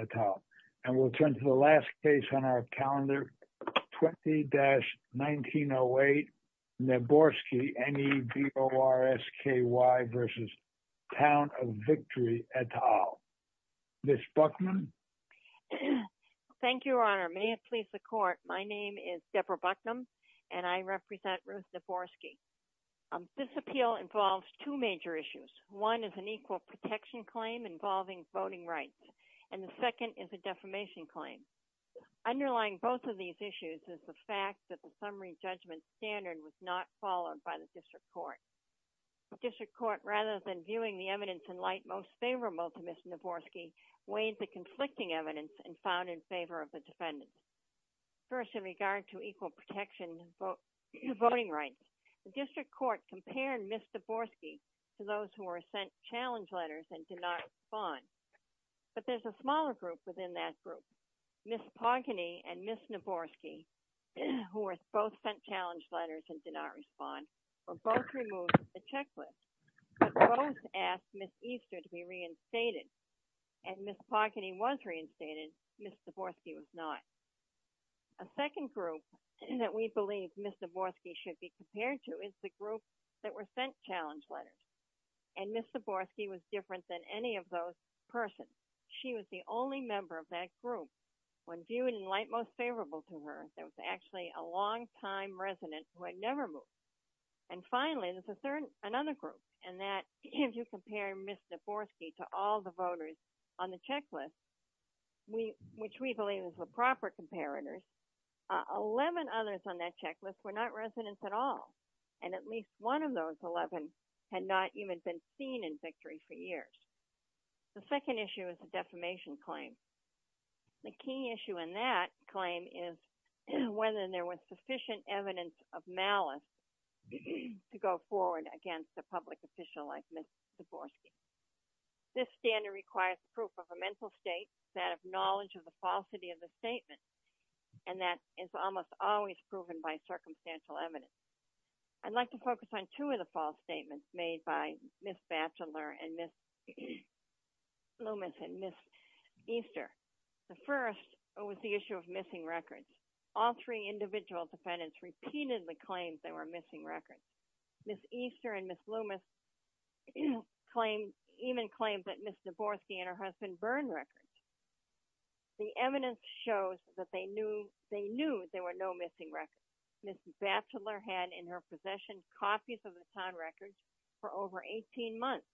at all. And we'll turn to the last case on our calendar, 20-1908, Neborsky, N-E-B-O-R-S-K-Y v. Town of Victory et al. Ms. Buckman? Thank you, Your Honor. May it please the Court, my name is Deborah Buckman, and I represent Ruth Neborsky. This appeal involves two major issues. One is an equal protection claim involving voting rights, and the second is a defamation claim. Underlying both of these issues is the fact that the summary judgment standard was not followed by the District Court. The District Court, rather than viewing the evidence in light most favorable to Ms. Neborsky, weighed the conflicting evidence and found in favor of the defendants. First, in regard to equal protection voting rights, the District Court compared Ms. Neborsky to those who were sent challenge letters and did not respond. But there's a smaller group within that group. Ms. Pogany and Ms. Neborsky, who were both sent challenge letters and did not respond, were both removed from the checklist, but both asked Ms. Easter to be reinstated. And Ms. Pogany was reinstated, Ms. Neborsky was not. A second group that we believe Ms. Neborsky should be compared to is the group that were sent challenge letters. And Ms. Neborsky was different than any of those persons. She was the only member of that group. When viewed in light most favorable to her, there was actually a longtime resident who had never moved. And finally, there's another group, and that, if you compare Ms. Neborsky to all the voters on the checklist, which we believe is the proper comparators, 11 others on that checklist had no evidence at all. And at least one of those 11 had not even been seen in victory for years. The second issue is the defamation claim. The key issue in that claim is whether there was sufficient evidence of malice to go forward against a public official like Ms. Neborsky. This standard requires proof of a mental state, that of knowledge of the falsity of the statement, and that is almost always proven by circumstantial evidence. I'd like to focus on two of the false statements made by Ms. Batchelor and Ms. Loomis and Ms. Easter. The first was the issue of missing records. All three individual defendants repeatedly claimed they were missing records. Ms. Easter and Ms. Loomis even claimed that Ms. Neborsky and her husband burned records. The evidence shows that they knew there were no missing records. Ms. Batchelor had in her possession copies of the town records for over 18 months,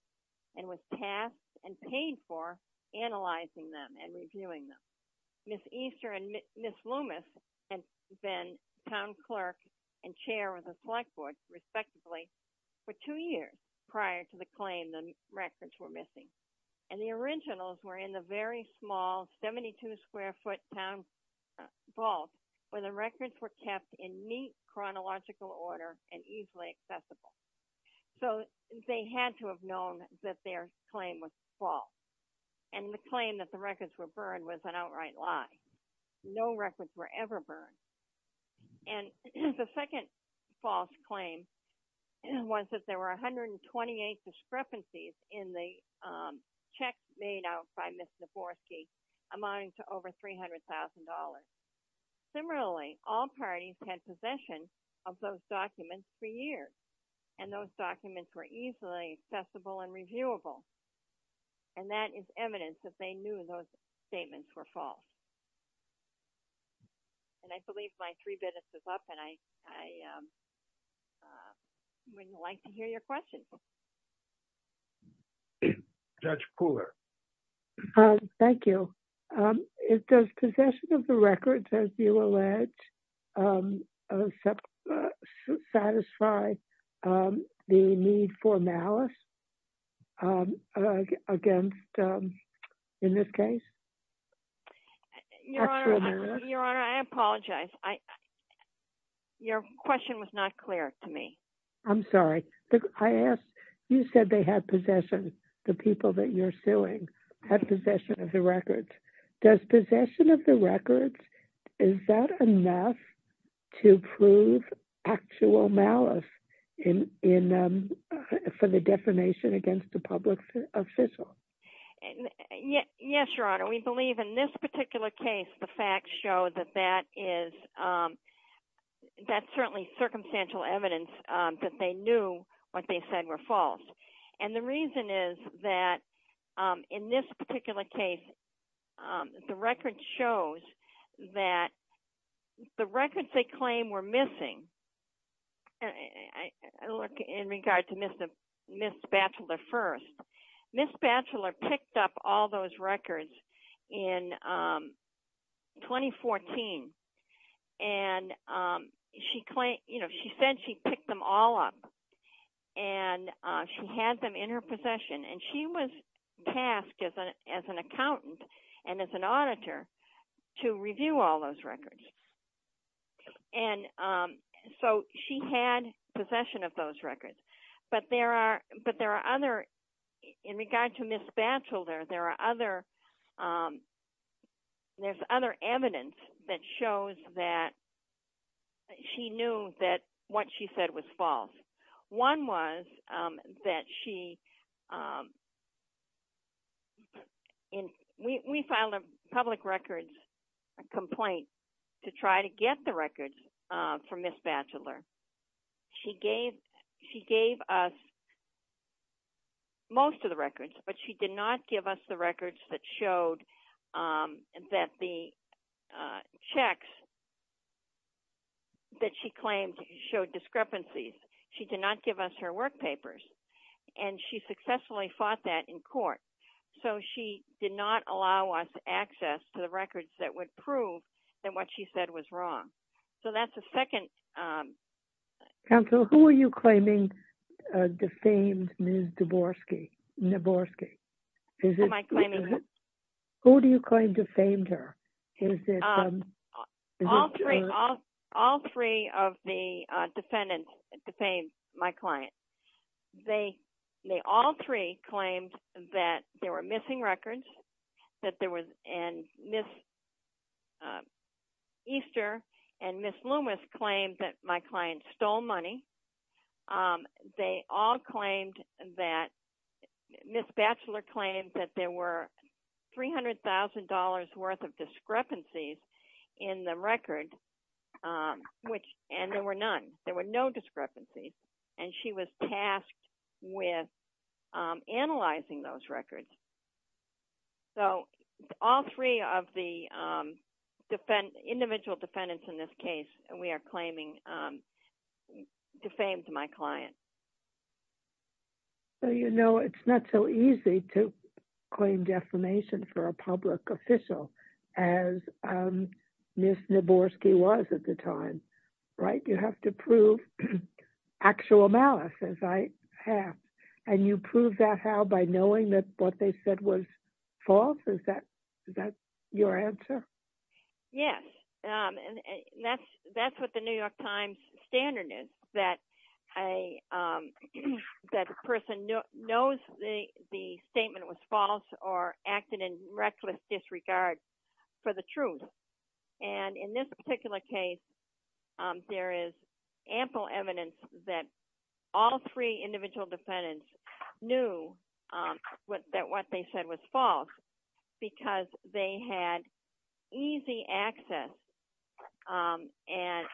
and was tasked and paid for analyzing them and reviewing them. Ms. Easter and Ms. Loomis had been town clerk and chair of the select board, respectively, for two years prior to the claim the records were missing. And the originals were in the very small 72-square-foot town vault where the records were kept in neat chronological order and easily accessible. So they had to have known that their claim was false. And the claim that the records were burned was an outright lie. No records were ever burned. And the second false claim was that there were 128 discrepancies in the check made out by Ms. Neborsky amounting to over $300,000. Similarly, all parties had possession of those documents for years, and those documents were easily accessible and reviewable. And that is evidence that they knew those statements were false. And I believe my three minutes is up, and I would like to hear your questions. Judge Pooler. Thank you. Does possession of the records, as you allege, satisfy the need for malice against, in this case, actual malice? Your Honor, I apologize. Your question was not clear to me. I'm sorry. I asked, you said they had possession, the people that you're suing, had possession of the records. Does possession of the records, is that enough to prove actual malice in, for the defamation against the public official? Yes, Your Honor. We believe in this particular case, the facts show that that is, that's certainly circumstantial evidence that they knew what they said were false. And the reason is that in this particular case, the record shows that the records they claim were missing, I look, in regard to Ms. Batchelor first. Ms. Batchelor picked up all those records in 2014. And she claimed, you know, she said she picked them all up. And she had them in her possession. And she was tasked as an accountant and as an auditor to review all those records. And so she had possession of those records. But there are other, in regard to Ms. Batchelor, there are other, there's other evidence that shows that she knew that what she said was to try to get the records from Ms. Batchelor. She gave, she gave us most of the records, but she did not give us the records that showed that the checks that she claimed showed discrepancies. She did not give us her work papers. And she successfully fought that in court. So she did not allow us access to the records that would prove that what she said was wrong. So that's the second. Counsel, who are you claiming defamed Ms. Dvorsky? Am I claiming who? Who do you claim defamed her? All three, all three of the defendants defamed my client. They, they all three claimed that there were missing records, that there was, and Ms. Easter and Ms. Loomis claimed that my client stole money. They all claimed that, Ms. Batchelor claimed that there were $300,000 worth of discrepancies in the record, which, and there were none. There were no discrepancies. And she was tasked with analyzing those records. So all three of the defendants, individual defendants in this case, we are claiming defamed my client. Well, you know, it's not so easy to claim defamation for a public official as Ms. Dvorsky was at the time, right? You have to prove actual malice, as I have. And you prove that how? By knowing that what they said was false? Is that, is that your answer? Yes. And that's, that's what the New York Times standard is, that a person knows the statement was false or acted in reckless disregard for the truth. And in this particular case, there is ample evidence that all three individual defendants knew that what they said was false because they had easy access and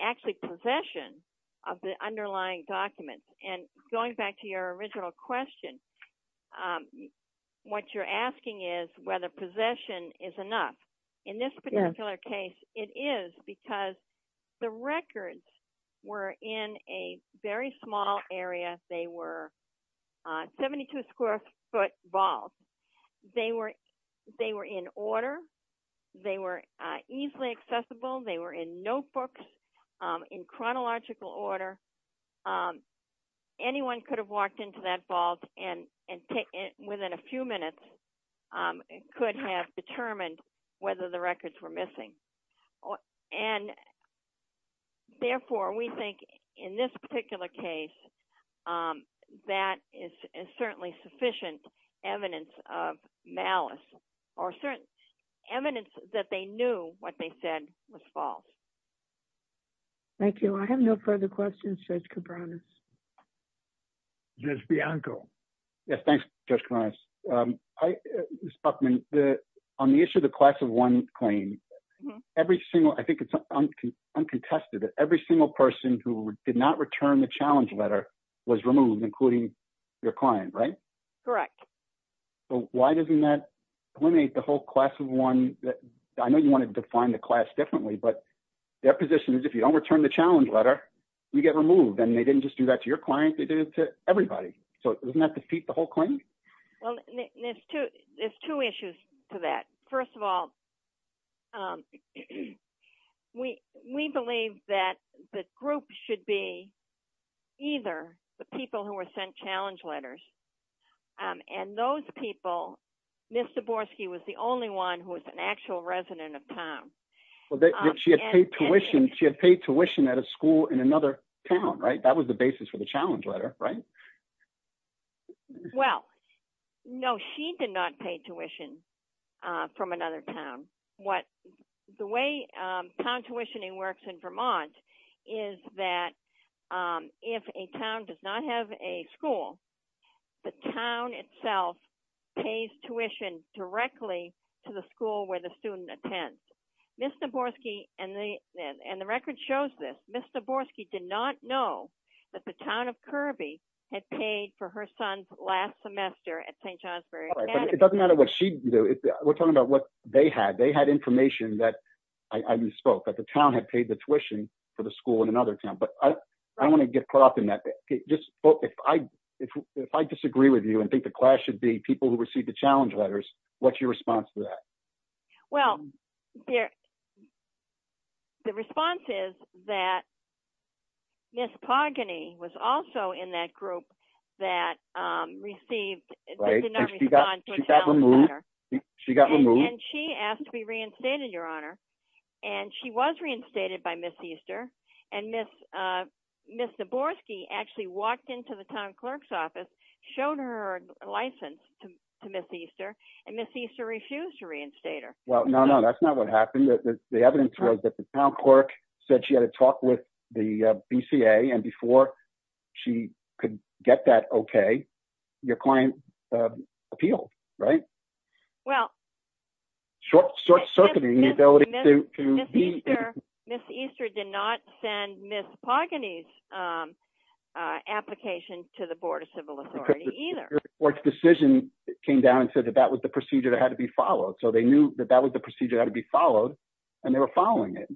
actually possession of the underlying documents. And going back to your original question, what you're asking is whether possession is enough. In this particular case, it is because the records were in a very small area. They were 72 square foot vault. They were, they were in order. They were easily accessible. They were in notebooks, in chronological order. Anyone could have walked into that vault and within a few minutes could have determined whether the records were missing. And therefore, we think in this particular case, that is certainly sufficient evidence of malice or certain evidence that they knew what they said was false. Thank you. I have no further questions, Judge Cabranes. Judge Bianco. Yes, thanks, Judge Cabranes. Ms. Buckman, on the issue of the class of one claim, every single person who did not return the challenge letter was removed, including your client, right? Correct. So why doesn't that eliminate the whole class of one? I know you want to define the class differently, but their position is if you don't return the challenge letter, you get removed. And they didn't just do that to your client, they did it to everybody. So doesn't that defeat the whole claim? Well, there's two issues to that. First of all, we believe that the group should be either the people who were sent challenge letters, and those people, Ms. Zaborski was the only one who was an actual resident of town. She had paid tuition at a school in another town, right? That was the basis for the challenge letter, right? Well, no, she did not pay tuition from another town. The way town tuitioning works in Vermont is that if a town does not have a school, the town itself pays tuition directly to the school where the student attends. Ms. Zaborski, and the record shows this, Ms. Zaborski did not know that the town of Kirby had paid for her son's last semester at St. Johnsbury Academy. It doesn't matter what she knew, we're talking about what they had. They had information that I misspoke, that the town had paid the tuition for the school in another town. But I don't want to get caught up in that. If I disagree with you and think the class should be people who received the challenge letters, what's your response to that? Well, the response is that Ms. Pogany was also in that group that received the challenge letter. She got removed. And she asked to be reinstated, Your Honor. And she was reinstated by Ms. Easter. And Ms. Zaborski actually walked into the town clerk's office, showed her license to Ms. Zaborski and stayed her. Well, no, no, that's not what happened. The evidence was that the town clerk said she had to talk with the BCA. And before she could get that okay, your client appealed, right? Well... Short-circuiting the ability to be... Ms. Easter did not send Ms. Pogany's application to the Board of Civil Authority either. The board's decision came down and said that that was the procedure that had to be followed. So they knew that that was the procedure that had to be followed. And they were following it.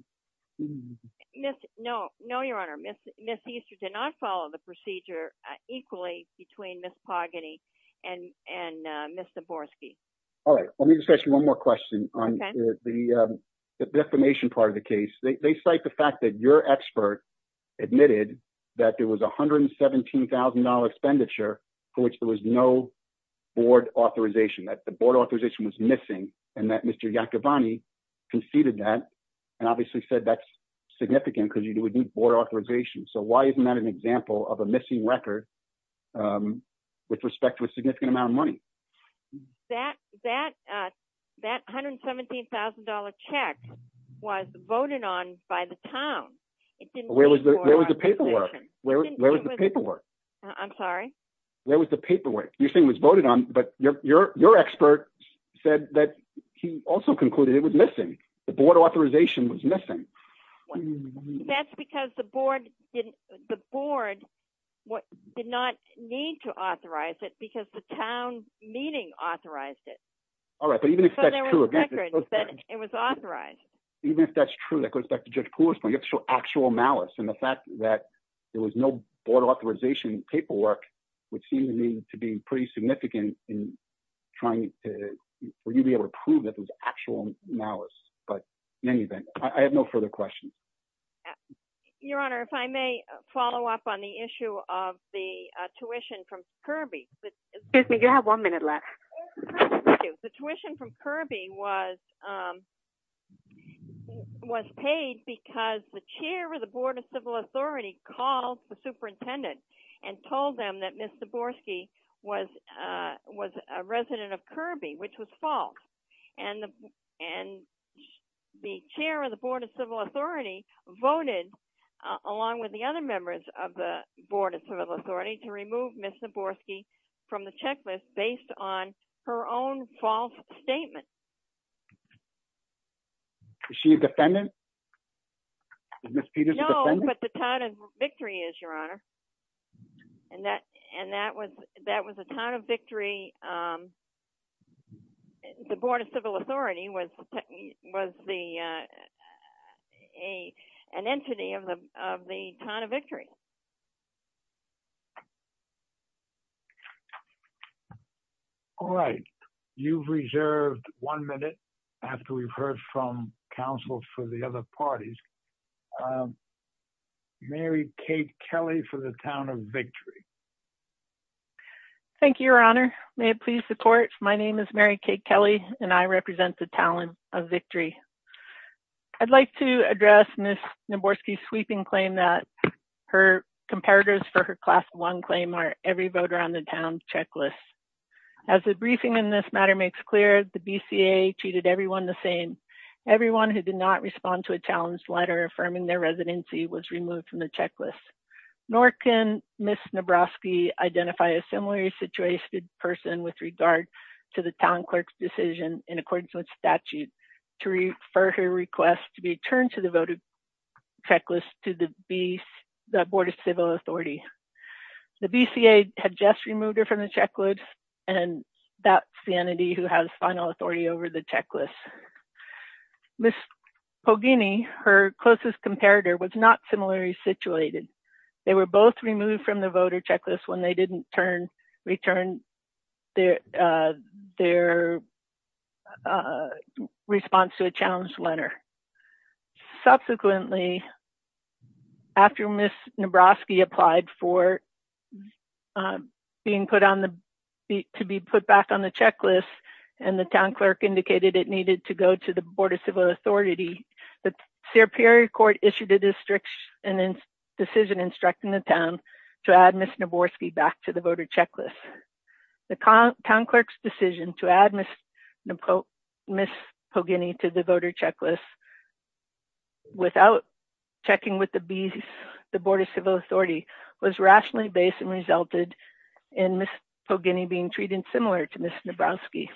No, no, Your Honor. Ms. Easter did not follow the procedure equally between Ms. Pogany and Ms. Zaborski. All right. Let me just ask you one more question on the defamation part of the case. They cite the fact that your expert admitted that there was $117,000 expenditure for which there was no board authorization, that the board authorization was missing, and that Mr. Iacoboni conceded that and obviously said that's significant because you would need board authorization. So why isn't that an example of a missing record with respect to a significant amount of money? That $117,000 check was voted on by the town. Where was the paperwork? I'm sorry? Where was the paperwork? You're saying it was voted on, but your expert said that he also concluded it was missing. The board authorization was missing. That's because the board did not need to authorize it because the town meeting authorized it. All right. But even if that's true. So there was a record that it was authorized. Even if that's true, that goes back to Judge Poole's point. And the fact that there was no board authorization paperwork would seem to me to be pretty significant in trying to be able to prove that there was actual malice. But in any event, I have no further questions. Your Honor, if I may follow up on the issue of the tuition from Kirby. Excuse me, you have one minute left. The tuition from Kirby was paid because the chair of the Board of Civil Authority called the superintendent and told them that Ms. Zaborski was a resident of Kirby, which was false. And the chair of the Board of Civil Authority voted, along with the other members of the Board of Civil Authority, to remove Ms. Zaborski from the checklist based on her own false statement. Is she a defendant? No, but the town of Victory is, Your Honor. And that was the town of Victory. The Board of Civil Authority was an entity of the town of Victory. All right. You've reserved one minute after we've heard from counsel for the other parties. Mary Kate Kelly for the town of Victory. Thank you, Your Honor. May it please the court. My name is Mary Kate Kelly, and I represent the town of Victory. I'd like to address Ms. Zaborski's sweeping claim that her comparators for her class one claim are every voter on the town checklist. As the briefing in this matter makes clear, the BCA treated everyone the same. Everyone who did not respond to a challenge letter affirming their residency was removed from the checklist. Nor can Ms. Zaborski identify a similarly situated person with regard to the town clerk's decision, in accordance with statute, to refer her request to be turned to the voter checklist to the Board of Civil Authority. The BCA had just removed her from the checklist, and that's the entity who has final authority over the checklist. Ms. Poggini, her closest comparator, was not similarly situated. They were both removed from the voter checklist when they didn't return their response to a challenge letter. Subsequently, after Ms. Zaborski applied to be put back on the checklist, and the town clerk indicated it needed to go to the Board of Civil Authority, the Superior Court issued a decision instructing the town to add Ms. Zaborski back to the voter checklist. The town clerk's decision to add Ms. Poggini to the voter checklist without checking with the Board of Civil Authority was rationally based and resulted in Ms. Poggini being treated similar to Ms. Zaborski.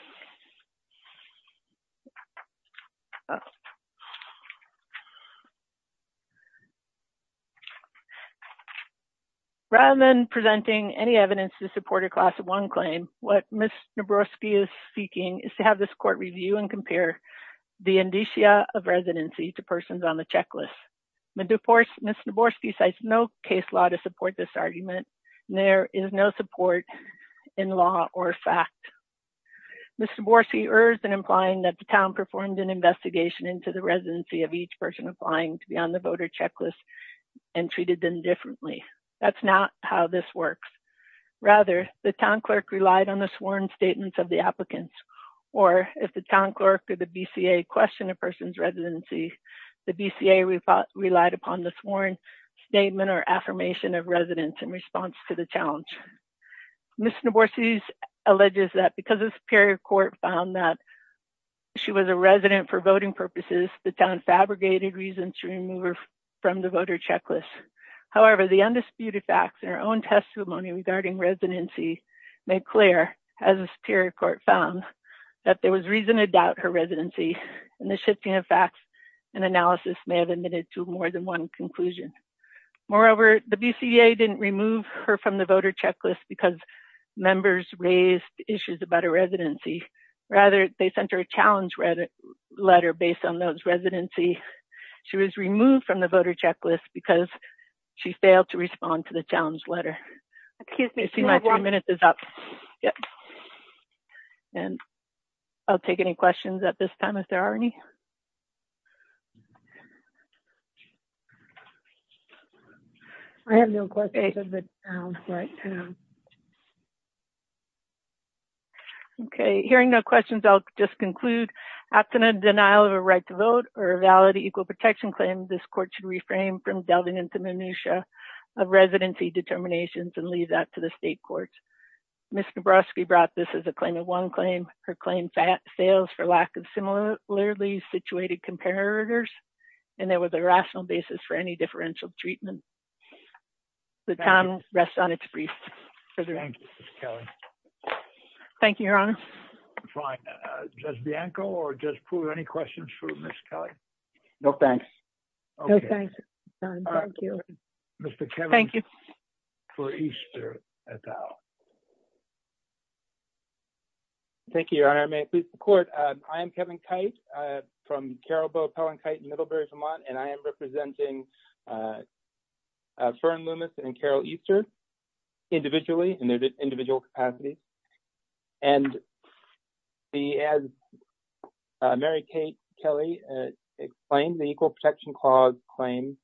Rather than presenting any evidence to support a Class 1 claim, what Ms. Zaborski is seeking is to have this court review and compare the indicia of residency to persons on the checklist. Ms. Zaborski cites no case law to support this argument. There is no support in law or fact. Ms. Zaborski urged in implying that the town performed an investigation into the residency of each person applying to be on the voter checklist and treated them differently. That's not how this works. Rather, the town clerk relied on the sworn statements of the applicants. Or, if the town clerk or the BCA questioned a person's residency, the BCA relied upon the sworn statement or affirmation of residence in response to the challenge. Ms. Zaborski alleges that because the Superior Court found that she was a resident for voting purposes, the town fabricated reasons to remove her from the voter checklist. However, the undisputed facts in her own testimony regarding residency made clear, as the Superior Court found, that there was reason to doubt her residency, and the shifting of facts and analysis may have admitted to more than one conclusion. Moreover, the BCA didn't remove her from the voter checklist because members raised issues about her residency. Rather, they sent her a challenge letter based on those residency. She was removed from the voter checklist because she failed to respond to the challenge letter. I see my two minutes is up. I'll take any questions at this time if there are any. Hearing no questions, I'll just conclude. After a denial of a right to vote or a valid equal protection claim, this court should reframe from delving into minutia of residency determinations and leave that to the state courts. Ms. Zaborski brought this as a claim of one claim. Her claim fails for lack of similarly situated comparators, and there was a rational basis for any differential treatment. The time rests on its brief. Thank you, Ms. Kelly. Thank you, Your Honor. Fine. Judge Bianco or Judge Pruitt, any questions for Ms. Kelly? No thanks. Okay. No thanks. All right. Mr. Kevin. Thank you. For Easter et al. Thank you, Your Honor. May it please the court. I am Kevin Kite from Carol Bow Pellen Kite in Middlebury, Vermont, and I am representing Fern Loomis and Carol Easter individually in their individual capacities. And as Mary Kelly explained, the Equal Protection Clause claim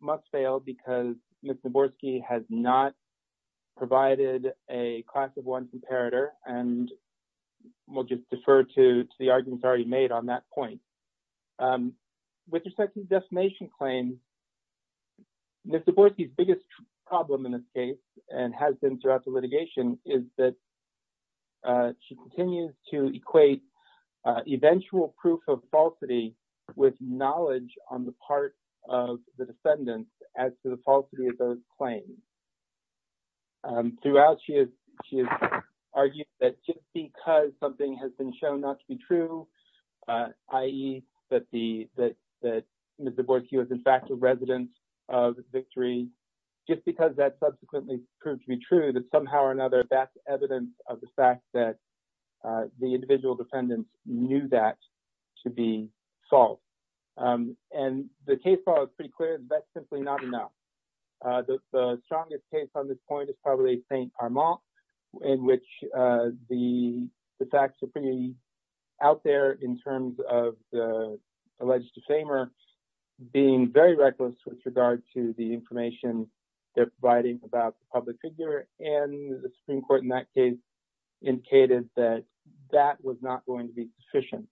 must fail because Ms. Zaborski has not provided a class of one comparator, and we'll just defer to the arguments already made on that point. With respect to the defamation claim, Ms. Zaborski's biggest problem in this case and has been throughout the litigation is that she continues to equate eventual proof of falsity with knowledge on the part of the defendants as to the falsity of those claims. Throughout, she has argued that just because something has been shown not to be true, i.e., that Ms. Zaborski was in fact a resident of Victory, just because that subsequently proved to be true, that somehow or another that's evidence of the fact that the individual defendants knew that to be false. And the case law is pretty clear that that's simply not enough. The strongest case on this point is probably St. Armand in which the facts are pretty out there in terms of the alleged defamer being very reckless with regard to the information they're providing about the public figure, and the Supreme Court in that case indicated that that was not going to be sufficient.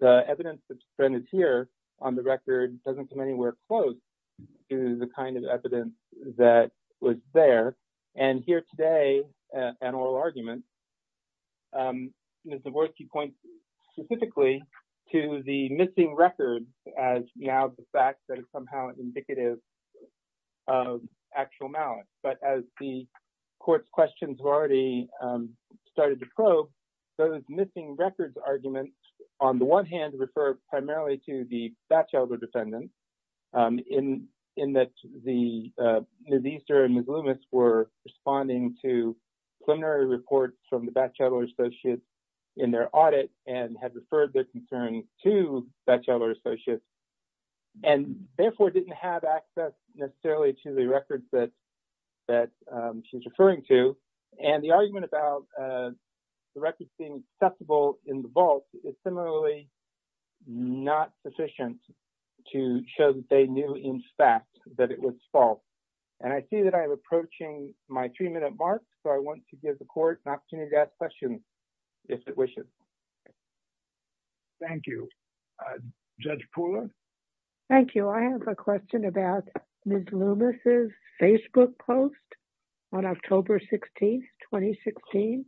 The evidence that's presented here on the record doesn't come anywhere close to the kind of evidence that was there. And here today, an oral argument, Ms. Zaborski points specifically to the missing record as now the fact that it's somehow indicative of actual malice. But as the court's questions have already started to probe, those missing records arguments, on the one hand, refer primarily to the Batchelder defendants, in that Ms. Easter and Ms. Loomis were responding to preliminary reports from the Batchelder associates in their audit and had referred their concerns to Batchelder associates, and therefore didn't have access necessarily to the records that she's referring to. And the argument about the records being accessible in the vault is similarly not sufficient to show that they knew in fact that it was false. And I see that I'm approaching my three-minute mark, so I want to give the court an opportunity to ask questions if it wishes. Thank you. Judge Pooler? Thank you. I have a question about Ms. Loomis' Facebook post on October 16, 2016,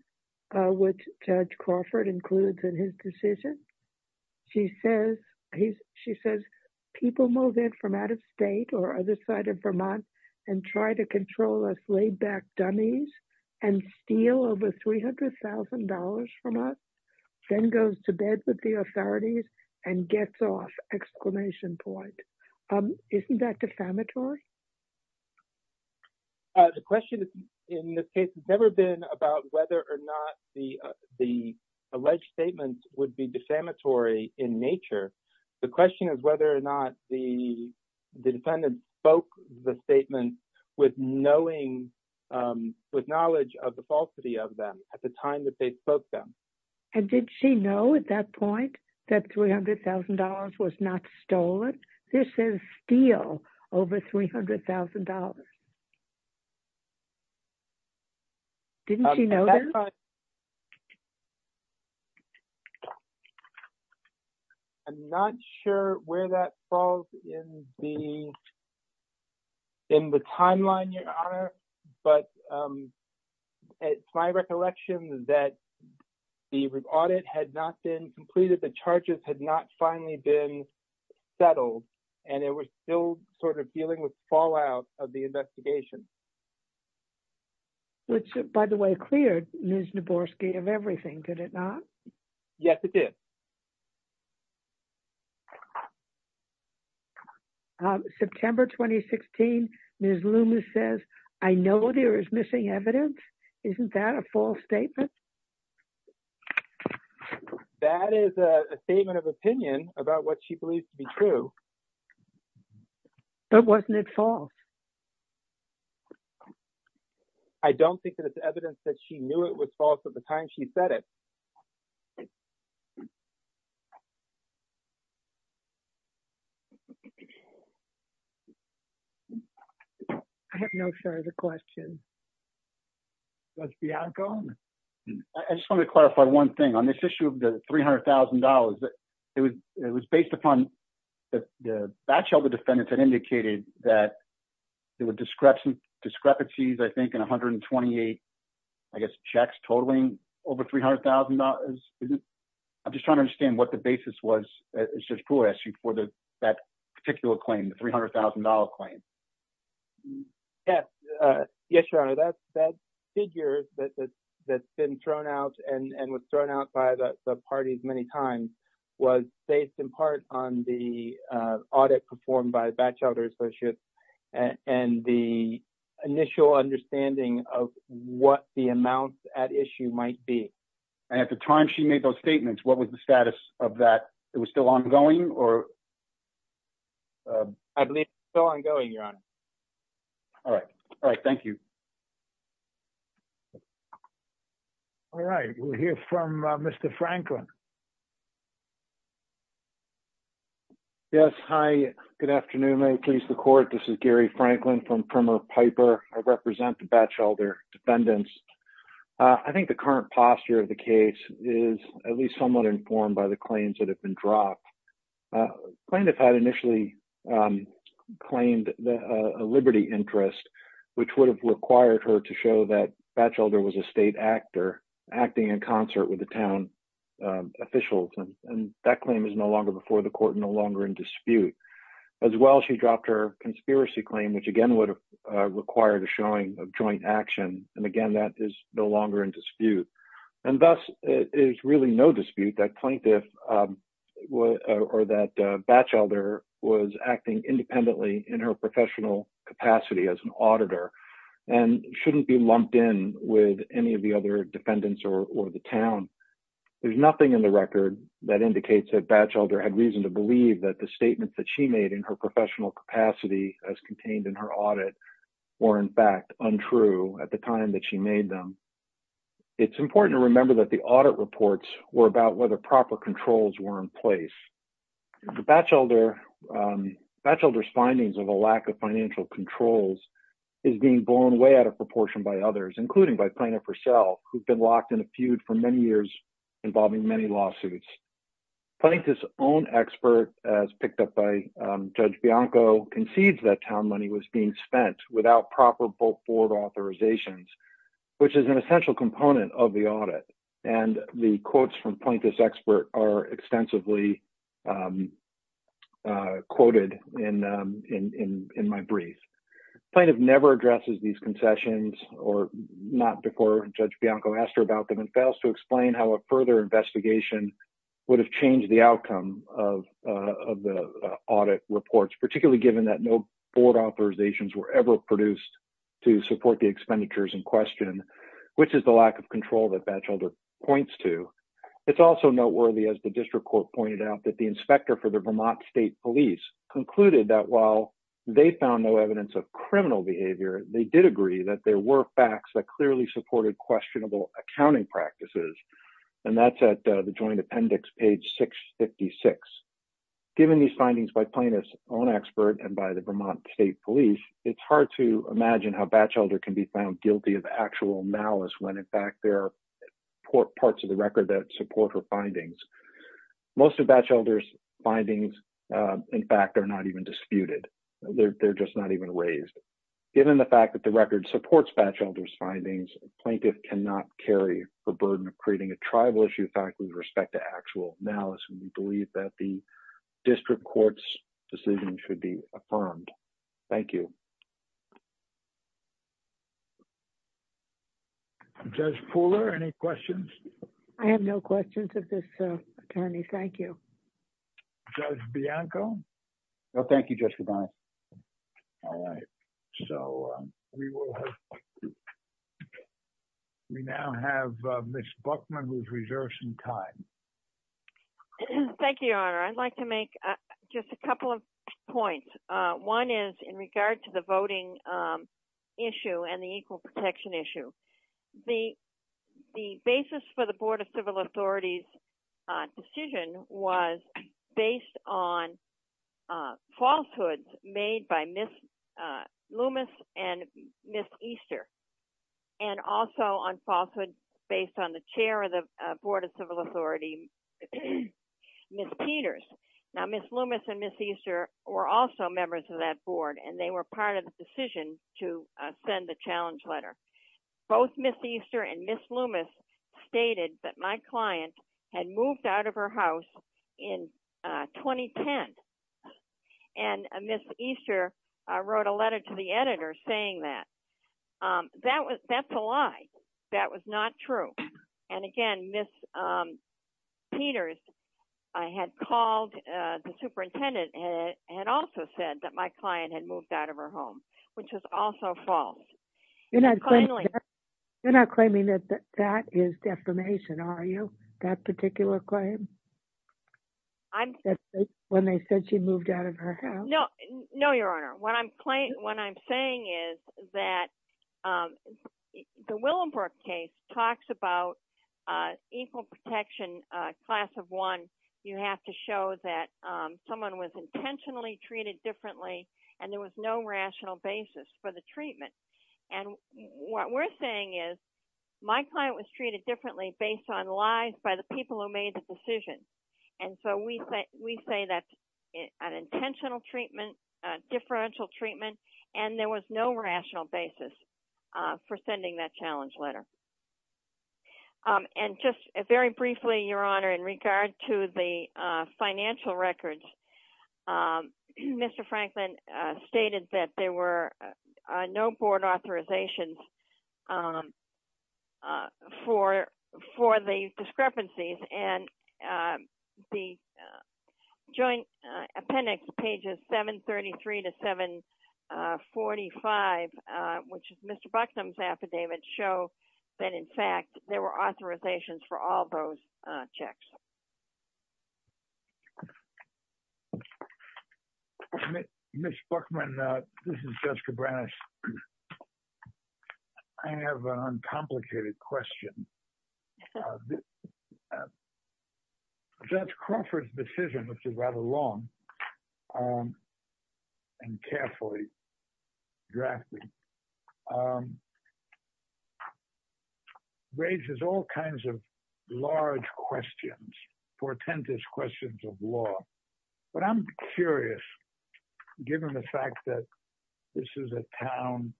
which Judge Crawford includes in his decision. She says, people move in from out-of-state or other side of Vermont and try to control us laid-back dummies and steal over $300,000 from us, then goes to bed with the authorities and gets off! Isn't that defamatory? The question in this case has never been about whether or not the alleged statements would be defamatory in nature. The question is whether or not the defendant spoke the statements with knowledge of the falsity of them at the time that they spoke them. And did she know at that point that $300,000 was not stolen? This is steal over $300,000. Didn't she know this? I'm not sure where that falls in the timeline, Your Honor, but it's my recollection that the audit had not been completed, the charges had not finally been settled, and it was still sort of dealing with fallout of the investigation. Which, by the way, cleared Ms. Naborski of everything, did it not? Yes, it did. September 2016, Ms. Loomis says, I know there is missing evidence. Isn't that a false statement? That is a statement of opinion about what she believes to be true. But wasn't it false? I don't think that it's evidence that she knew it was false at the time she said it. I'm not sure the question was the outcome. I just want to clarify one thing. On this issue of the $300,000, it was based upon the batch of the defendants that indicated that there were discrepancies, I think, in 128, I guess, checks totaling over $300,000. I'm just trying to understand what the basis was for that particular claim, the $300,000 claim. Yes, Your Honor, that figure that's been thrown out and was thrown out by the parties many times was based in part on the audit performed by the Batchelder Associates and the initial understanding of what the amounts at issue might be. And at the time she made those statements, what was the status of that? It was still ongoing? I believe it's still ongoing, Your Honor. All right. All right. Thank you. All right. We'll hear from Mr. Franklin. Yes. Hi. Good afternoon. May it please the court. This is Gary Franklin from Primer Piper. I represent the Batchelder defendants. I think the current posture of the case is at least somewhat informed by the claims that have been dropped. Plaintiff had initially claimed a liberty interest, which would have required her to show that Batchelder was a state actor acting in concert with the town officials. And that claim is no longer before the court, no longer in dispute. As well, she dropped her conspiracy claim, which again would require the showing of joint action. And again, that is no longer in dispute. And thus, it is really no dispute that plaintiff or that Batchelder was acting independently in her professional capacity as an auditor and shouldn't be lumped in with any of the other defendants or the town. There's nothing in the record that indicates that Batchelder had reason to believe that the statements that she made in her professional capacity as contained in her audit were, in fact, untrue at the time that she made them. It's important to remember that the audit reports were about whether proper controls were in place. Batchelder's findings of a lack of financial controls is being blown way out of proportion by others, including by Plaintiff herself, who's been locked in a feud for many years involving many lawsuits. Plaintiff's own expert, as picked up by Judge Bianco, concedes that town money was being spent without proper both board authorizations, which is an essential component of the audit. And the quotes from Plaintiff's expert are extensively quoted in my brief. Plaintiff never addresses these concessions, or not before Judge Bianco asked her about them, and fails to explain how a further investigation would have changed the outcome of the audit reports, particularly given that no board authorizations were ever produced to support the expenditures in question, which is the lack of control that Batchelder points to. It's also noteworthy, as the district court pointed out, that the inspector for the Vermont State Police concluded that while they found no evidence of criminal behavior, they did agree that there were facts that clearly supported questionable accounting practices. And that's at the joint appendix, page 656. Given these findings by Plaintiff's own expert and by the Vermont State Police, it's hard to imagine how Batchelder can be found guilty of actual malice when in fact there are parts of the record that support her findings. Most of Batchelder's findings, in fact, are not even disputed. They're just not even raised. Given the fact that the record supports Batchelder's findings, Plaintiff cannot carry the burden of creating a tribal issue fact with respect to actual malice when we believe that the district court's decision should be affirmed. Thank you. Judge Pooler, any questions? I have no questions of this attorney. Thank you. Judge Bianco? No, thank you, Judge Codoni. All right, so we now have Ms. Buckman who's reserved some time. Thank you, Your Honor. I'd like to make just a couple of points. One is in regard to the voting issue and the equal protection issue. The basis for the Board of Civil Authorities' decision was based on falsehoods made by Ms. Loomis and Ms. Easter, and also on falsehoods based on the chair of the Board of Civil Authority, Ms. Peters. Now, Ms. Loomis and Ms. Easter were also members of that board, and they were part of the decision to send the challenge letter. Both Ms. Easter and Ms. Loomis stated that my client had moved out of her house in 2010, and Ms. Easter wrote a letter to the editor saying that. That's a lie. That was not true. And again, Ms. Peters had called the superintendent and also said that my client had moved out of her home, which was also false. You're not claiming that that is defamation, are you? That particular claim? When they said she moved out of her house? No, Your Honor. What I'm saying is that the Willenbrook case talks about equal protection class of one. You have to show that someone was intentionally treated differently, and there was no rational basis for the treatment. And what we're saying is my client was treated differently based on lies by the people who made the decision. And so we say that's an intentional treatment, a differential treatment, and there was no rational basis for sending that challenge letter. And just very briefly, Your Honor, in regard to the financial records, Mr. Franklin stated that there were no board authorizations for the discrepancies. And the Joint Appendix, pages 733 to 745, which is Mr. Buckman's affidavit, show that, in fact, there were authorizations for all those checks. Ms. Buckman, this is Judge Cabranes. I have an uncomplicated question. Judge Crawford's decision, which is rather long and carefully drafted, raises all kinds of large questions, portentous questions of law. But I'm curious, given the fact that this is a town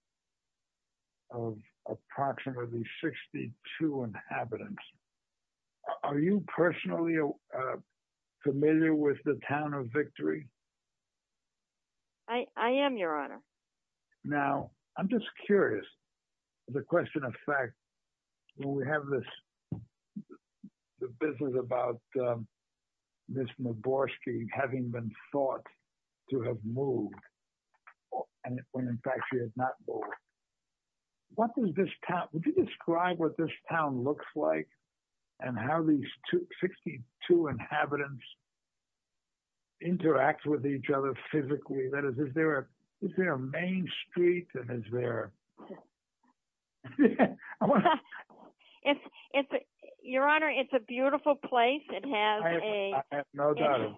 of approximately 62 inhabitants, are you personally familiar with the town of Victory? I am, Your Honor. Now, I'm just curious, the question of fact, when we have this business about Ms. Muborski having been thought to have moved, when in fact she has not moved, what does this town, would you describe what this town looks like and how these 62 inhabitants interact with each other physically? That is, is there a main street and is there... Your Honor, it's a beautiful place. It has a... I have no doubt of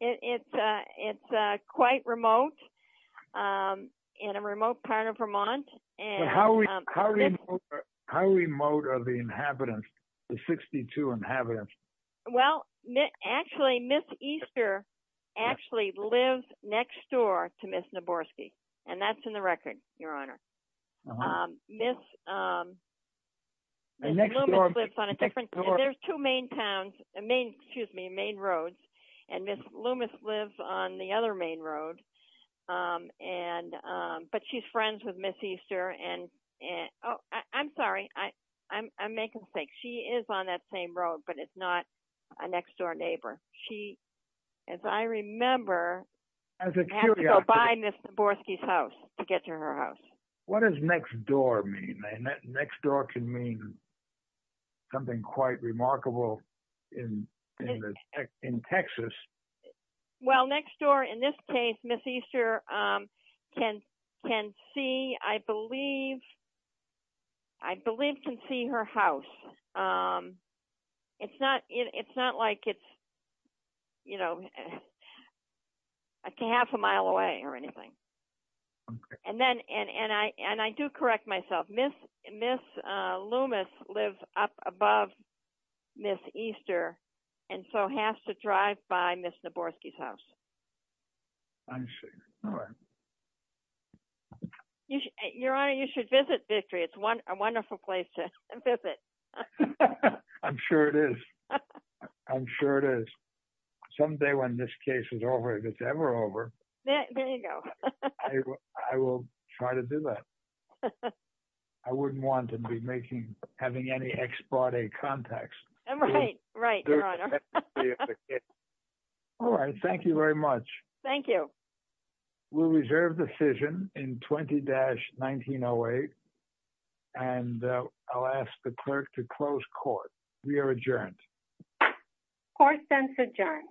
it. It's quite remote, in a remote part of Vermont. How remote are the inhabitants, the 62 inhabitants? Well, actually, Ms. Easter actually lives next door to Ms. Muborski, and that's in the record, Your Honor. Ms. Loomis lives on a different... There's two main towns, excuse me, main roads, and Ms. Loomis lives on the other main road, but she's friends with Ms. Easter and... Oh, I'm sorry, I'm making a mistake. She is on that same road, but it's not a next door neighbor. She, as I remember, has to go by Ms. Muborski's house to get to her house. What does next door mean? Next door can mean something quite remarkable in Texas. Well, next door, in this case, Ms. Easter can see, I believe, I believe can see her house. It's not like it's, you know, half a mile away or anything. And then, and I do correct myself, Ms. Loomis lives up above Ms. Easter, and so has to drive by Ms. Muborski's house. I see, all right. Your Honor, you should visit Victory. It's a wonderful place to visit. I'm sure it is. I'm sure it is. Someday when this case is over, if it's ever over... There you go. I will try to do that. I wouldn't want to be making, having any ex parte context. Right, right, Your Honor. All right, thank you very much. Thank you. We'll reserve the decision in 20-1908, and I'll ask the clerk to close court. We are adjourned. Court is adjourned.